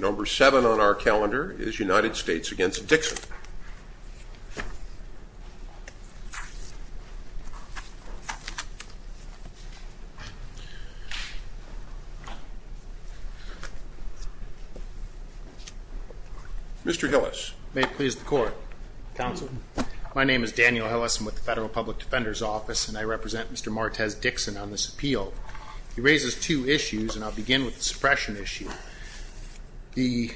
Number seven on our calendar is United States against Dixon Mr. Hillis may please the court Counsel, my name is Daniel Ellis. I'm with the Federal Public Defender's Office and I represent. Mr. Martez Dixon on this appeal He raises two issues and I'll begin with the suppression issue the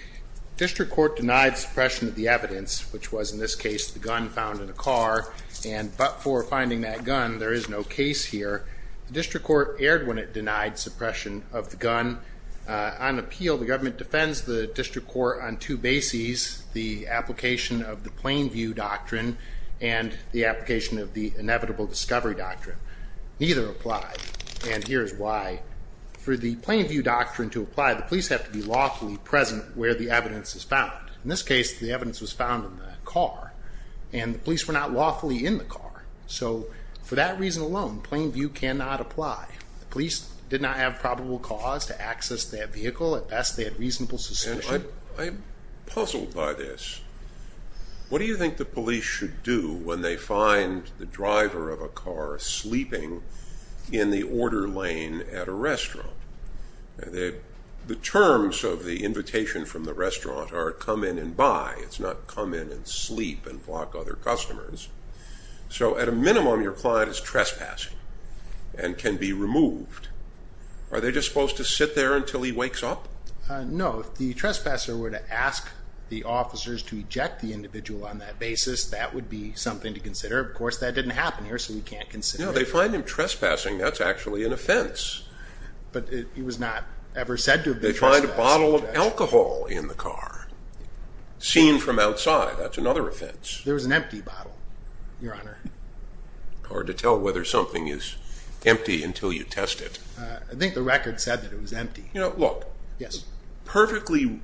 District Court denied suppression of the evidence which was in this case the gun found in a car and but for finding that gun There is no case here. The district court erred when it denied suppression of the gun on appeal the government defends the district court on two bases the application of the plain view doctrine and the application of the inevitable discovery doctrine neither applied And here's why For the plain view doctrine to apply the police have to be lawfully present where the evidence is found in this case The evidence was found in the car and the police were not lawfully in the car So for that reason alone plain view cannot apply Police did not have probable cause to access that vehicle at best they had reasonable suspicion. I'm puzzled by this What do you think the police should do when they find the driver of a car sleeping? in the order lane at a restaurant They the terms of the invitation from the restaurant are come in and buy it's not come in and sleep and block other customers So at a minimum your client is trespassing and can be removed Are they just supposed to sit there until he wakes up? No, the trespasser were to ask the officers to eject the individual on that basis That would be something to consider. Of course that didn't happen here. So we can't consider They find him trespassing. That's actually an offense But it was not ever said to they find a bottle of alcohol in the car Seen from outside. That's another offense. There was an empty bottle your honor Hard to tell whether something is empty until you test it. I think the record said that it was empty, you know, look. Yes, perfectly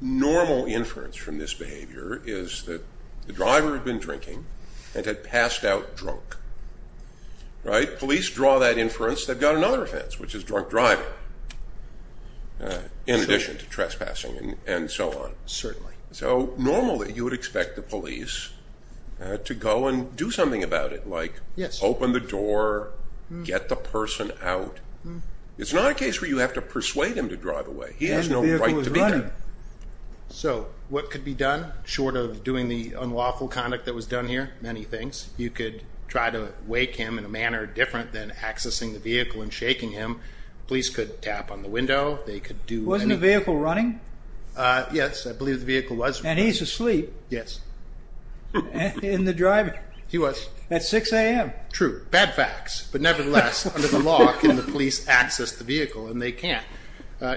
Normal inference from this behavior is that the driver had been drinking and had passed out drunk Right police draw that inference they've got another offense which is drunk driving In addition to trespassing and so on certainly so normally you would expect the police To go and do something about it like yes open the door Get the person out It's not a case where you have to persuade him to drive away. He has no right to be So what could be done short of doing the unlawful conduct that was done here many things you could try to wake him in a Manner different than accessing the vehicle and shaking him police could tap on the window. They could do wasn't a vehicle running Yes, I believe the vehicle was and he's asleep. Yes In the driving he was at 6 a.m. True bad facts But nevertheless under the law can the police access the vehicle and they can't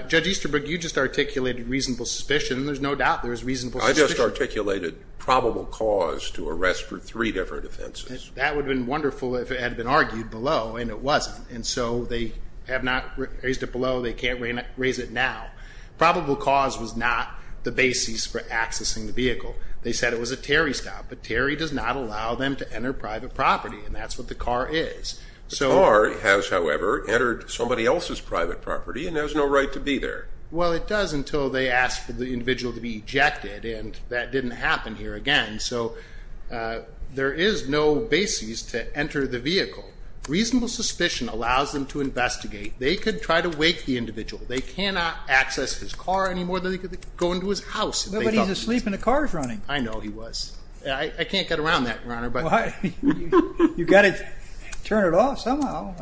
judge Easterberg You just articulated reasonable suspicion. There's no doubt. There's reasonable. I just articulated Probable cause to arrest for three different offenses that would have been wonderful If it had been argued below and it wasn't and so they have not raised it below. They can't raise it now Probable cause was not the basis for accessing the vehicle They said it was a Terry stop, but Terry does not allow them to enter private property and that's what the car is So our has however entered somebody else's private property and there's no right to be there Well, it does until they ask for the individual to be ejected and that didn't happen here again. So There is no basis to enter the vehicle Reasonable suspicion allows them to investigate they could try to wake the individual They cannot access his car anymore that he could go into his house. Nobody's asleep in the cars running I know he was I can't get around that runner, but I You got it turn it off somehow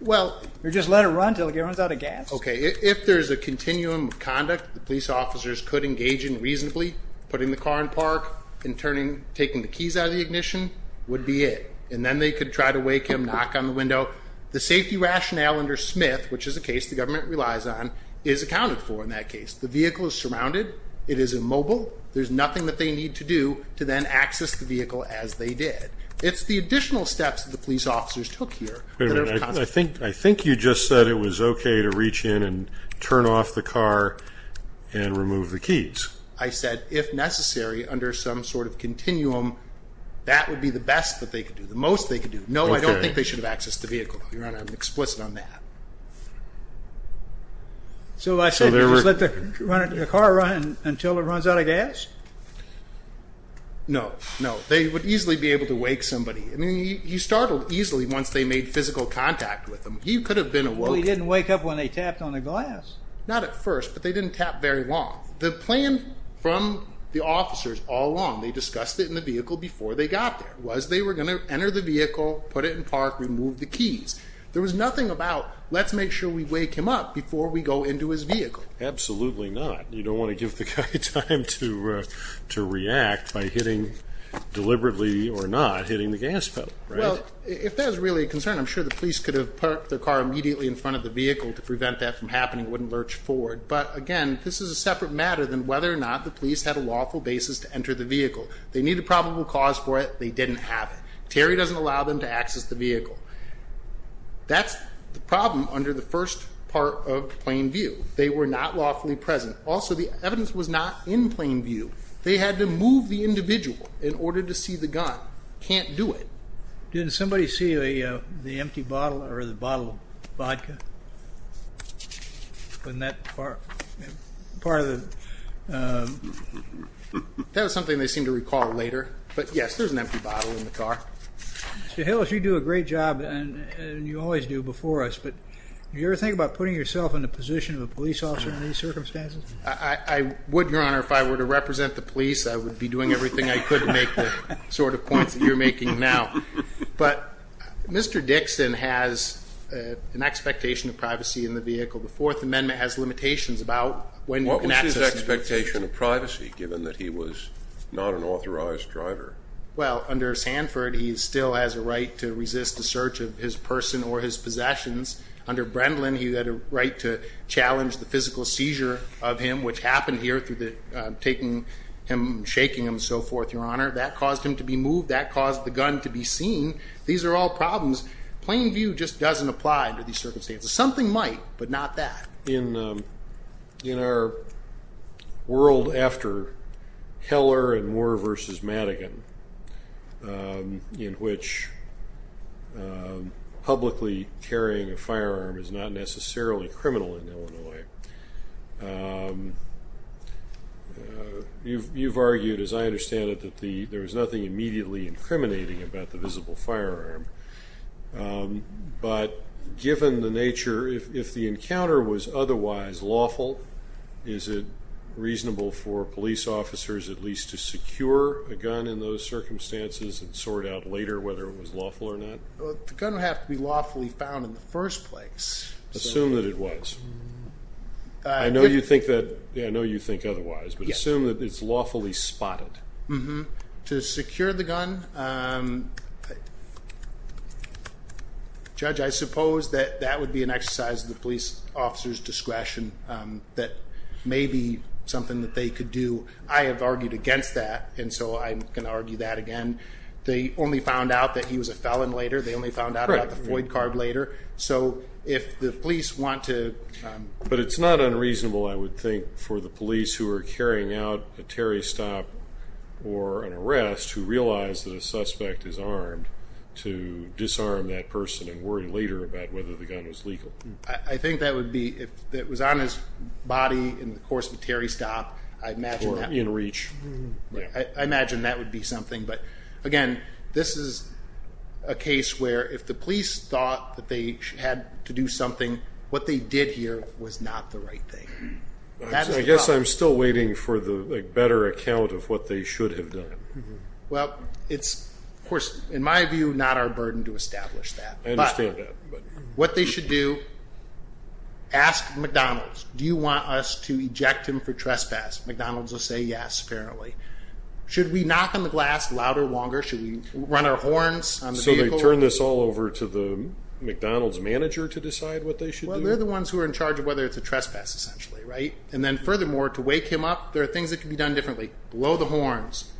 Well, you're just let it run till he runs out of gas Okay if there's a continuum of conduct the police officers could engage in reasonably putting the car in park and Turning taking the keys out of the ignition would be it and then they could try to wake him knock on the window the safety Rationale under Smith, which is a case The government relies on is accounted for in that case. The vehicle is surrounded. It is immobile There's nothing that they need to do to then access the vehicle as they did It's the additional steps of the police officers took here I think I think you just said it was okay to reach in and turn off the car and Remove the keys. I said if necessary under some sort of continuum That would be the best that they could do the most they could do No, I don't think they should have access to vehicle your honor. I'm explicit on that So I said let the runner to the car run until it runs out of gas No, no, they would easily be able to wake somebody I mean he startled easily once they made physical contact with him He could have been a well He didn't wake up when they tapped on the glass not at first But they didn't tap very long the plan from the officers all along They discussed it in the vehicle before they got there was they were gonna enter the vehicle put it in park remove the keys There was nothing about let's make sure we wake him up before we go into his vehicle Absolutely, not. You don't want to give the guy time to to react by hitting Deliberately or not hitting the gas pedal Well, if there's really a concern I'm sure the police could have parked the car immediately in front of the vehicle to prevent that from happening wouldn't lurch forward But again, this is a separate matter than whether or not the police had a lawful basis to enter the vehicle They need a probable cause for it. They didn't have it. Terry doesn't allow them to access the vehicle That's the problem under the first part of plain view they were not lawfully present Also, the evidence was not in plain view. They had to move the individual in order to see the gun can't do it Didn't somebody see a the empty bottle or the bottle vodka? When that part part of the That was something they seem to recall later, but yes, there's an empty bottle in the car Hill if you do a great job and you always do before us But you ever think about putting yourself in the position of a police officer in these circumstances? I would your honor if I were to represent the police. I would be doing everything I could make the sort of points You're making now, but Mr. Dixon has an expectation of privacy in the vehicle. The Fourth Amendment has limitations about when what was his expectation of privacy? Given that he was not an authorized driver. Well under Sanford He still has a right to resist the search of his person or his possessions under Brendan He had a right to challenge the physical seizure of him which happened here through the taking him Shaking him so forth your honor that caused him to be moved that caused the gun to be seen These are all problems plain view just doesn't apply to these circumstances something might but not that in in our world after Heller and war versus Madigan in which Publicly carrying a firearm is not necessarily criminal in Illinois You've argued as I understand it that the there was nothing immediately incriminating about the visible firearm But given the nature if the encounter was otherwise lawful is it Whether it was lawful or not gonna have to be lawfully found in the first place assume that it was I Know you think that I know you think otherwise, but assume that it's lawfully spotted. Mm-hmm to secure the gun Judge I suppose that that would be an exercise of the police officers discretion That may be something that they could do I have argued against that and so I'm gonna argue that again They only found out that he was a felon later. They only found out about the void card later so if the police want to But it's not unreasonable. I would think for the police who are carrying out a Terry stop Or an arrest who realized that a suspect is armed to disarm that person and worry later about whether the gun was legal I think that would be if it was on his body in the course of Terry stop. I imagine that in reach I imagine that would be something but again, this is a Case where if the police thought that they had to do something what they did here was not the right thing That I guess I'm still waiting for the better account of what they should have done Well, it's of course in my view not our burden to establish that I understand that but what they should do Ask McDonald's do you want us to eject him for trespass McDonald's will say yes apparently Should we knock on the glass louder longer should we run our horns? I'm so they turn this all over to the McDonald's manager to decide what they should well They're the ones who are in charge of whether it's a trespass essentially right and then furthermore to wake him up There are things that can be done differently blow the horns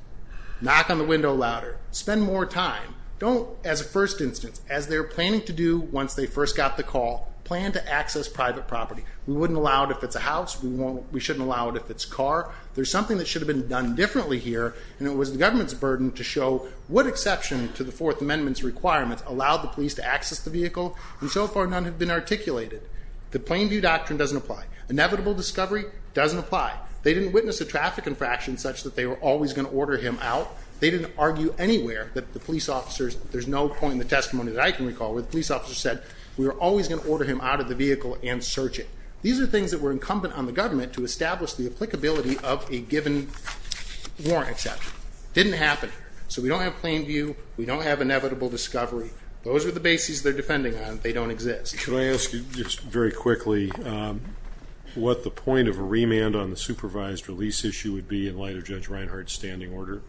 Knock on the window louder spend more time Don't as a first instance as they're planning to do once they first got the call plan to access private property We wouldn't allow it if it's a house. We won't we shouldn't allow it if it's car There's something that should have been done differently here And it was the government's burden to show what exception to the fourth amendment's requirements allowed the police to access the vehicle and so far None have been articulated the plain view doctrine doesn't apply inevitable discovery doesn't apply They didn't witness a traffic infraction such that they were always going to order him out They didn't argue anywhere that the police officers There's no point in the testimony that I can recall where the police officer said we were always going to order him out of the Vehicle and search it these are things that were incumbent on the government to establish the applicability of a given Warrant except didn't happen so we don't have plain view we don't have inevitable discovery those are the bases They're defending on they don't exist. Can I ask you just very quickly? What the point of a remand on the supervised release issue would be in light of Judge Reinhardt's standing order?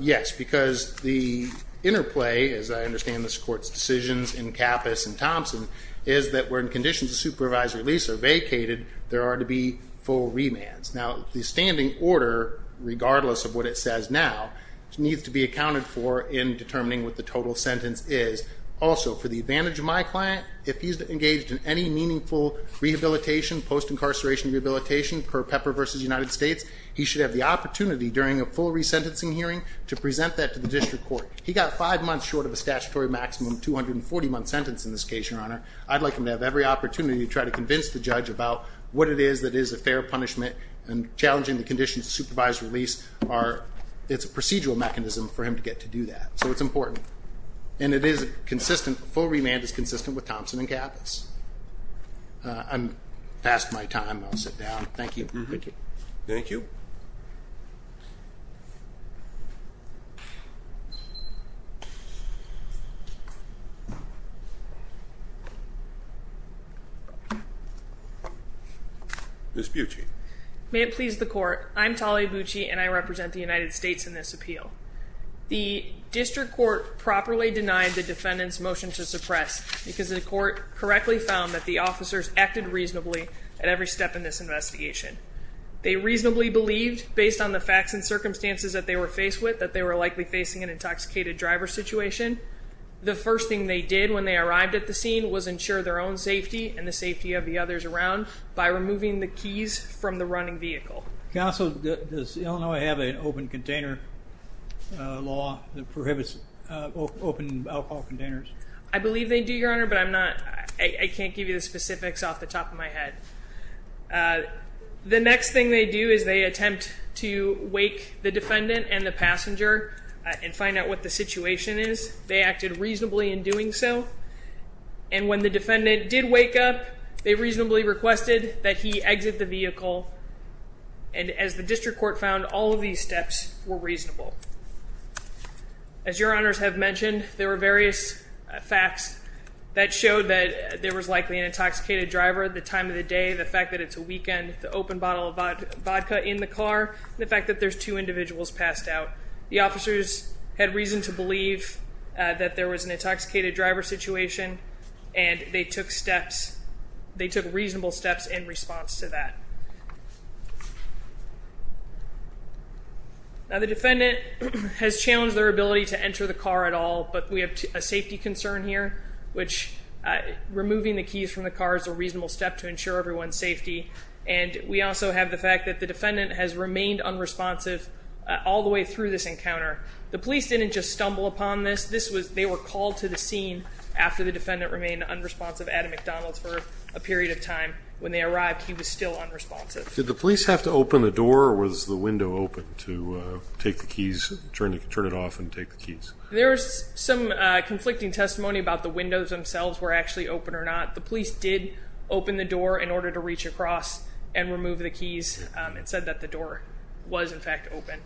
yes, because the Interplay as I understand this court's decisions in Kappus and Thompson is that we're in conditions of supervised release or vacated There are to be full remands now the standing order Regardless of what it says now needs to be accounted for in determining what the total sentence is Also for the advantage of my client if he's engaged in any meaningful rehabilitation post incarceration Rehabilitation per pepper versus United States he should have the opportunity during a full resentencing hearing to present that to the district court He got five months short of a statutory maximum 240 month sentence in this case your honor I'd like him to have every opportunity to try to convince the judge about what it is that is a fair punishment and Challenging the conditions of supervised release are it's a procedural mechanism for him to get to do that So it's important, and it is consistent full remand is consistent with Thompson and Kappus I'm past my time. I'll sit down. Thank you. Thank you Miss Bucci may it please the court I'm Talia Bucci, and I represent the United States in this appeal The district court properly denied the defendant's motion to suppress because the court correctly found that the officers acted reasonably at every step in this investigation They reasonably believed based on the facts and circumstances that they were faced with that they were likely facing an intoxicated driver situation The first thing they did when they arrived at the scene was ensure their own safety and the safety of the others around By removing the keys from the running vehicle Counsel does Illinois have an open container law that prohibits Open alcohol containers, I believe they do your honor, but I'm not I can't give you the specifics off the top of my head The next thing they do is they attempt to wake the defendant and the passenger and find out what the situation is they acted reasonably in doing so and When the defendant did wake up they reasonably requested that he exit the vehicle and as the district court found all of these steps were reasonable as Your honors have mentioned there were various facts that showed that there was likely an intoxicated driver at the time of the day the fact that it's a weekend the open bottle of vodka in The car the fact that there's two individuals passed out the officers had reason to believe That there was an intoxicated driver situation and they took steps They took reasonable steps in response to that Now the defendant has challenged their ability to enter the car at all, but we have a safety concern here which Removing the keys from the car is a reasonable step to ensure everyone's safety And we also have the fact that the defendant has remained unresponsive All the way through this encounter the police didn't just stumble upon this They were called to the scene after the defendant remained unresponsive at a McDonald's for a period of time when they arrived He was still unresponsive Did the police have to open the door was the window open to? Take the keys turn to turn it off and take the keys There's some conflicting testimony about the windows themselves were actually open or not the police did Open the door in order to reach across and remove the keys and said that the door was in fact open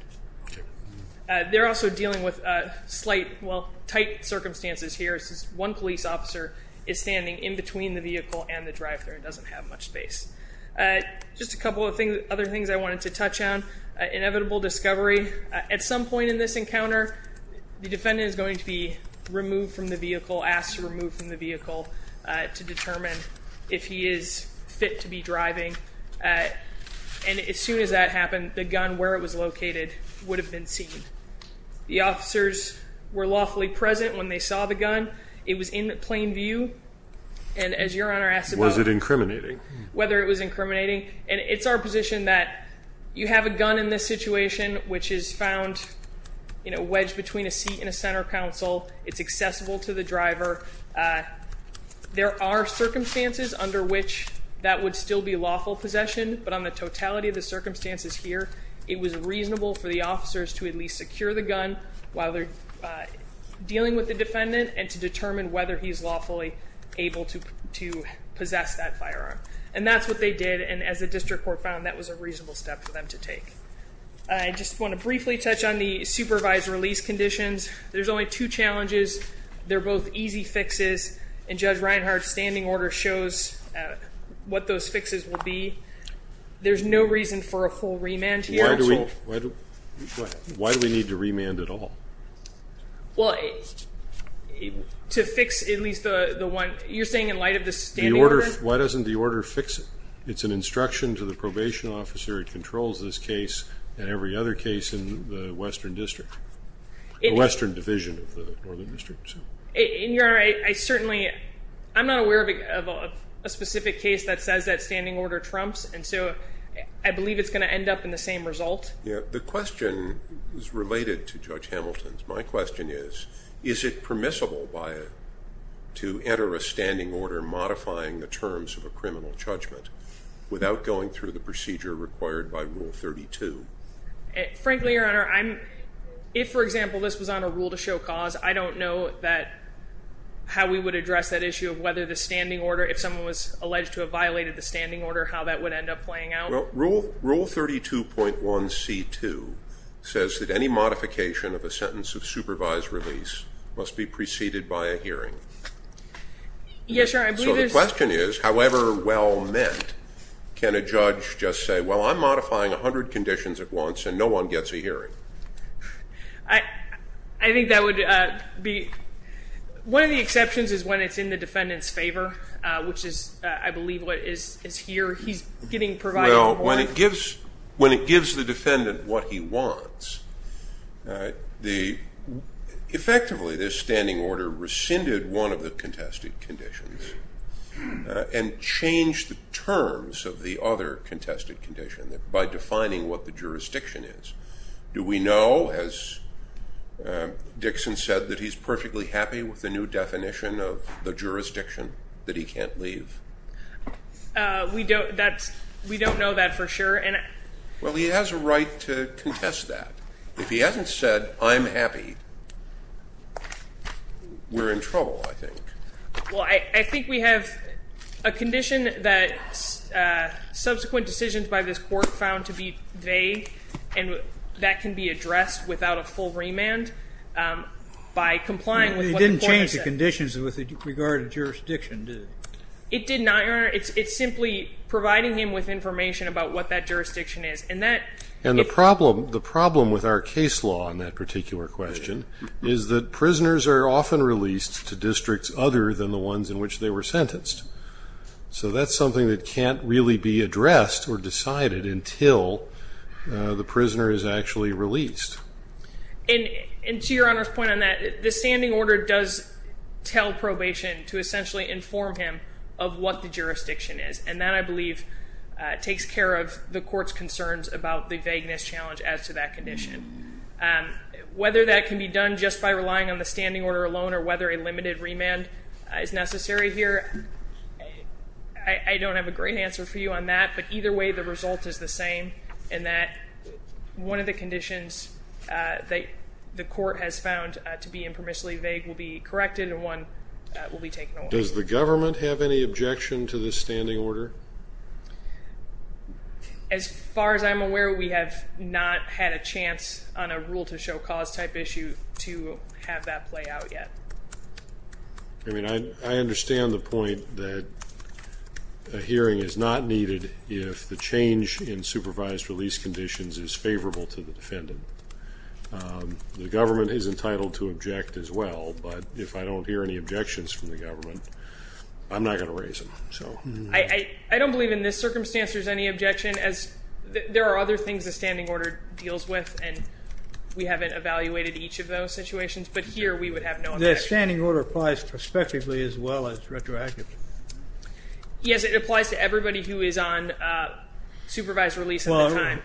They're also dealing with a slight well tight circumstances here This is one police officer is standing in between the vehicle and the drive-thru and doesn't have much space Just a couple of things other things. I wanted to touch on Inevitable discovery at some point in this encounter The defendant is going to be removed from the vehicle asked to remove from the vehicle to determine if he is Fit to be driving And as soon as that happened the gun where it was located would have been seen The officers were lawfully present when they saw the gun. It was in plain view and As your honor asked was it incriminating whether it was incriminating and it's our position that you have a gun in this situation Which is found You know wedged between a seat in a center console. It's accessible to the driver There are Circumstances under which that would still be lawful possession, but on the totality of the circumstances here It was reasonable for the officers to at least secure the gun while they're Dealing with the defendant and to determine whether he's lawfully able to to possess that firearm And that's what they did and as a district court found that was a reasonable step for them to take I Just want to briefly touch on the supervised release conditions. There's only two challenges They're both easy fixes and judge Reinhardt's standing order shows What those fixes will be? There's no reason for a full remand here. Why do we? Why do we need to remand at all? well To fix at least the the one you're saying in light of this the order why doesn't the order fix it? It's an instruction to the probation officer. It controls this case and every other case in the Western District Western Division of the Northern District In your I certainly I'm not aware of a specific case that says that standing order trumps And so I believe it's going to end up in the same result Yeah, the question is related to Judge Hamilton's my question is is it permissible by? To enter a standing order modifying the terms of a criminal judgment without going through the procedure required by rule 32 Frankly your honor. I'm if for example. This was on a rule to show cause I don't know that How we would address that issue of whether the standing order if someone was alleged to have violated the standing order how that would end? Up playing out rule rule 32.1 c2 Says that any modification of a sentence of supervised release must be preceded by a hearing Yes, your question is however well meant Can a judge just say well, I'm modifying a hundred conditions at once and no one gets a hearing I I think that would be One of the exceptions is when it's in the defendants favor, which is I believe what is is here He's getting provide. Oh when it gives when it gives the defendant what he wants the Effectively this standing order rescinded one of the contested conditions And change the terms of the other contested condition that by defining what the jurisdiction is do we know as Dixon said that he's perfectly happy with the new definition of the jurisdiction that he can't leave We don't that's we don't know that for sure and well he has a right to contest that if he hasn't said I'm happy We're in trouble, I think well, I think we have a condition that Subsequent decisions by this court found to be vague and that can be addressed without a full remand By complying we didn't change the conditions with regard to jurisdiction It did not honor It's it's simply providing him with information about what that jurisdiction is and that and the problem the problem with our case law on that Particular question is that prisoners are often released to districts other than the ones in which they were sentenced So that's something that can't really be addressed or decided until The prisoner is actually released and into your honor's point on that the standing order does Tell probation to essentially inform him of what the jurisdiction is and that I believe Takes care of the court's concerns about the vagueness challenge as to that condition Whether that can be done just by relying on the standing order alone, or whether a limited remand is necessary here I Don't have a great answer for you on that, but either way the result is the same and that one of the conditions That the court has found to be impermissibly vague will be corrected and one Will be taken does the government have any objection to this standing order? as Far as I'm aware. We have not had a chance on a rule to show cause type issue to have that play out yet I mean, I I understand the point that a Hearing is not needed if the change in supervised release conditions is favorable to the defendant The government is entitled to object as well, but if I don't hear any objections from the government I'm not going to raise them so I I don't believe in this circumstance there's any objection as There are other things the standing order deals with and we haven't evaluated each of those situations But here we would have no this standing order applies prospectively as well as retroactively Yes, it applies to everybody who is on Supervised release. I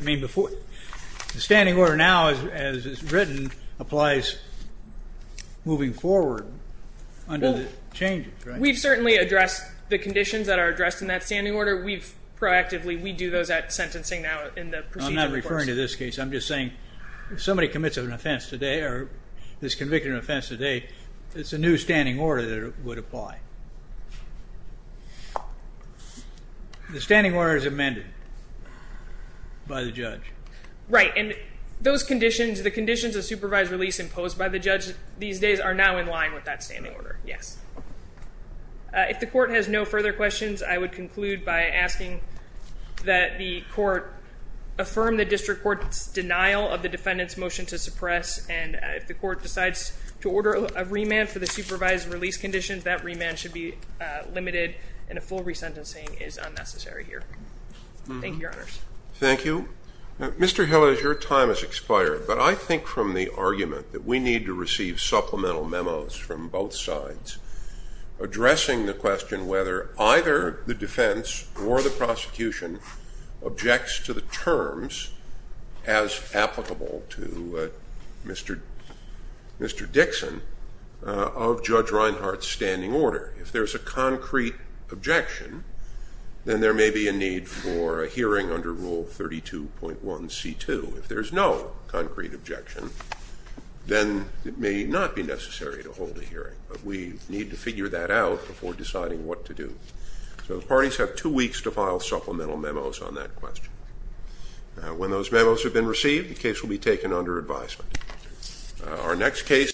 mean before the standing order now as written applies moving forward Under the changes, we've certainly addressed the conditions that are addressed in that standing order We've proactively we do those at sentencing now in the procedure referring to this case I'm just saying if somebody commits of an offense today or this convicted offense today. It's a new standing order that would apply The standing order is amended by the judge Right and those conditions the conditions of supervised release imposed by the judge these days are now in line with that standing order. Yes If the court has no further questions, I would conclude by asking that the court Affirm the district court's denial of the defendants motion to suppress and if the court decides to order a remand for the supervised release Conditions that remand should be limited and a full resentencing is unnecessary here Thank you, thank you Mr. Hill is your time has expired, but I think from the argument that we need to receive supplemental memos from both sides Addressing the question whether either the defense or the prosecution objects to the terms as applicable to Mr. Mr. Dixon of Judge Reinhardt's standing order if there's a concrete objection Then there may be a need for a hearing under rule thirty two point one c2 if there's no concrete objection Then it may not be necessary to hold a hearing but we need to figure that out before deciding what to do So the parties have two weeks to file supplemental memos on that question When those memos have been received the case will be taken under advisement our next case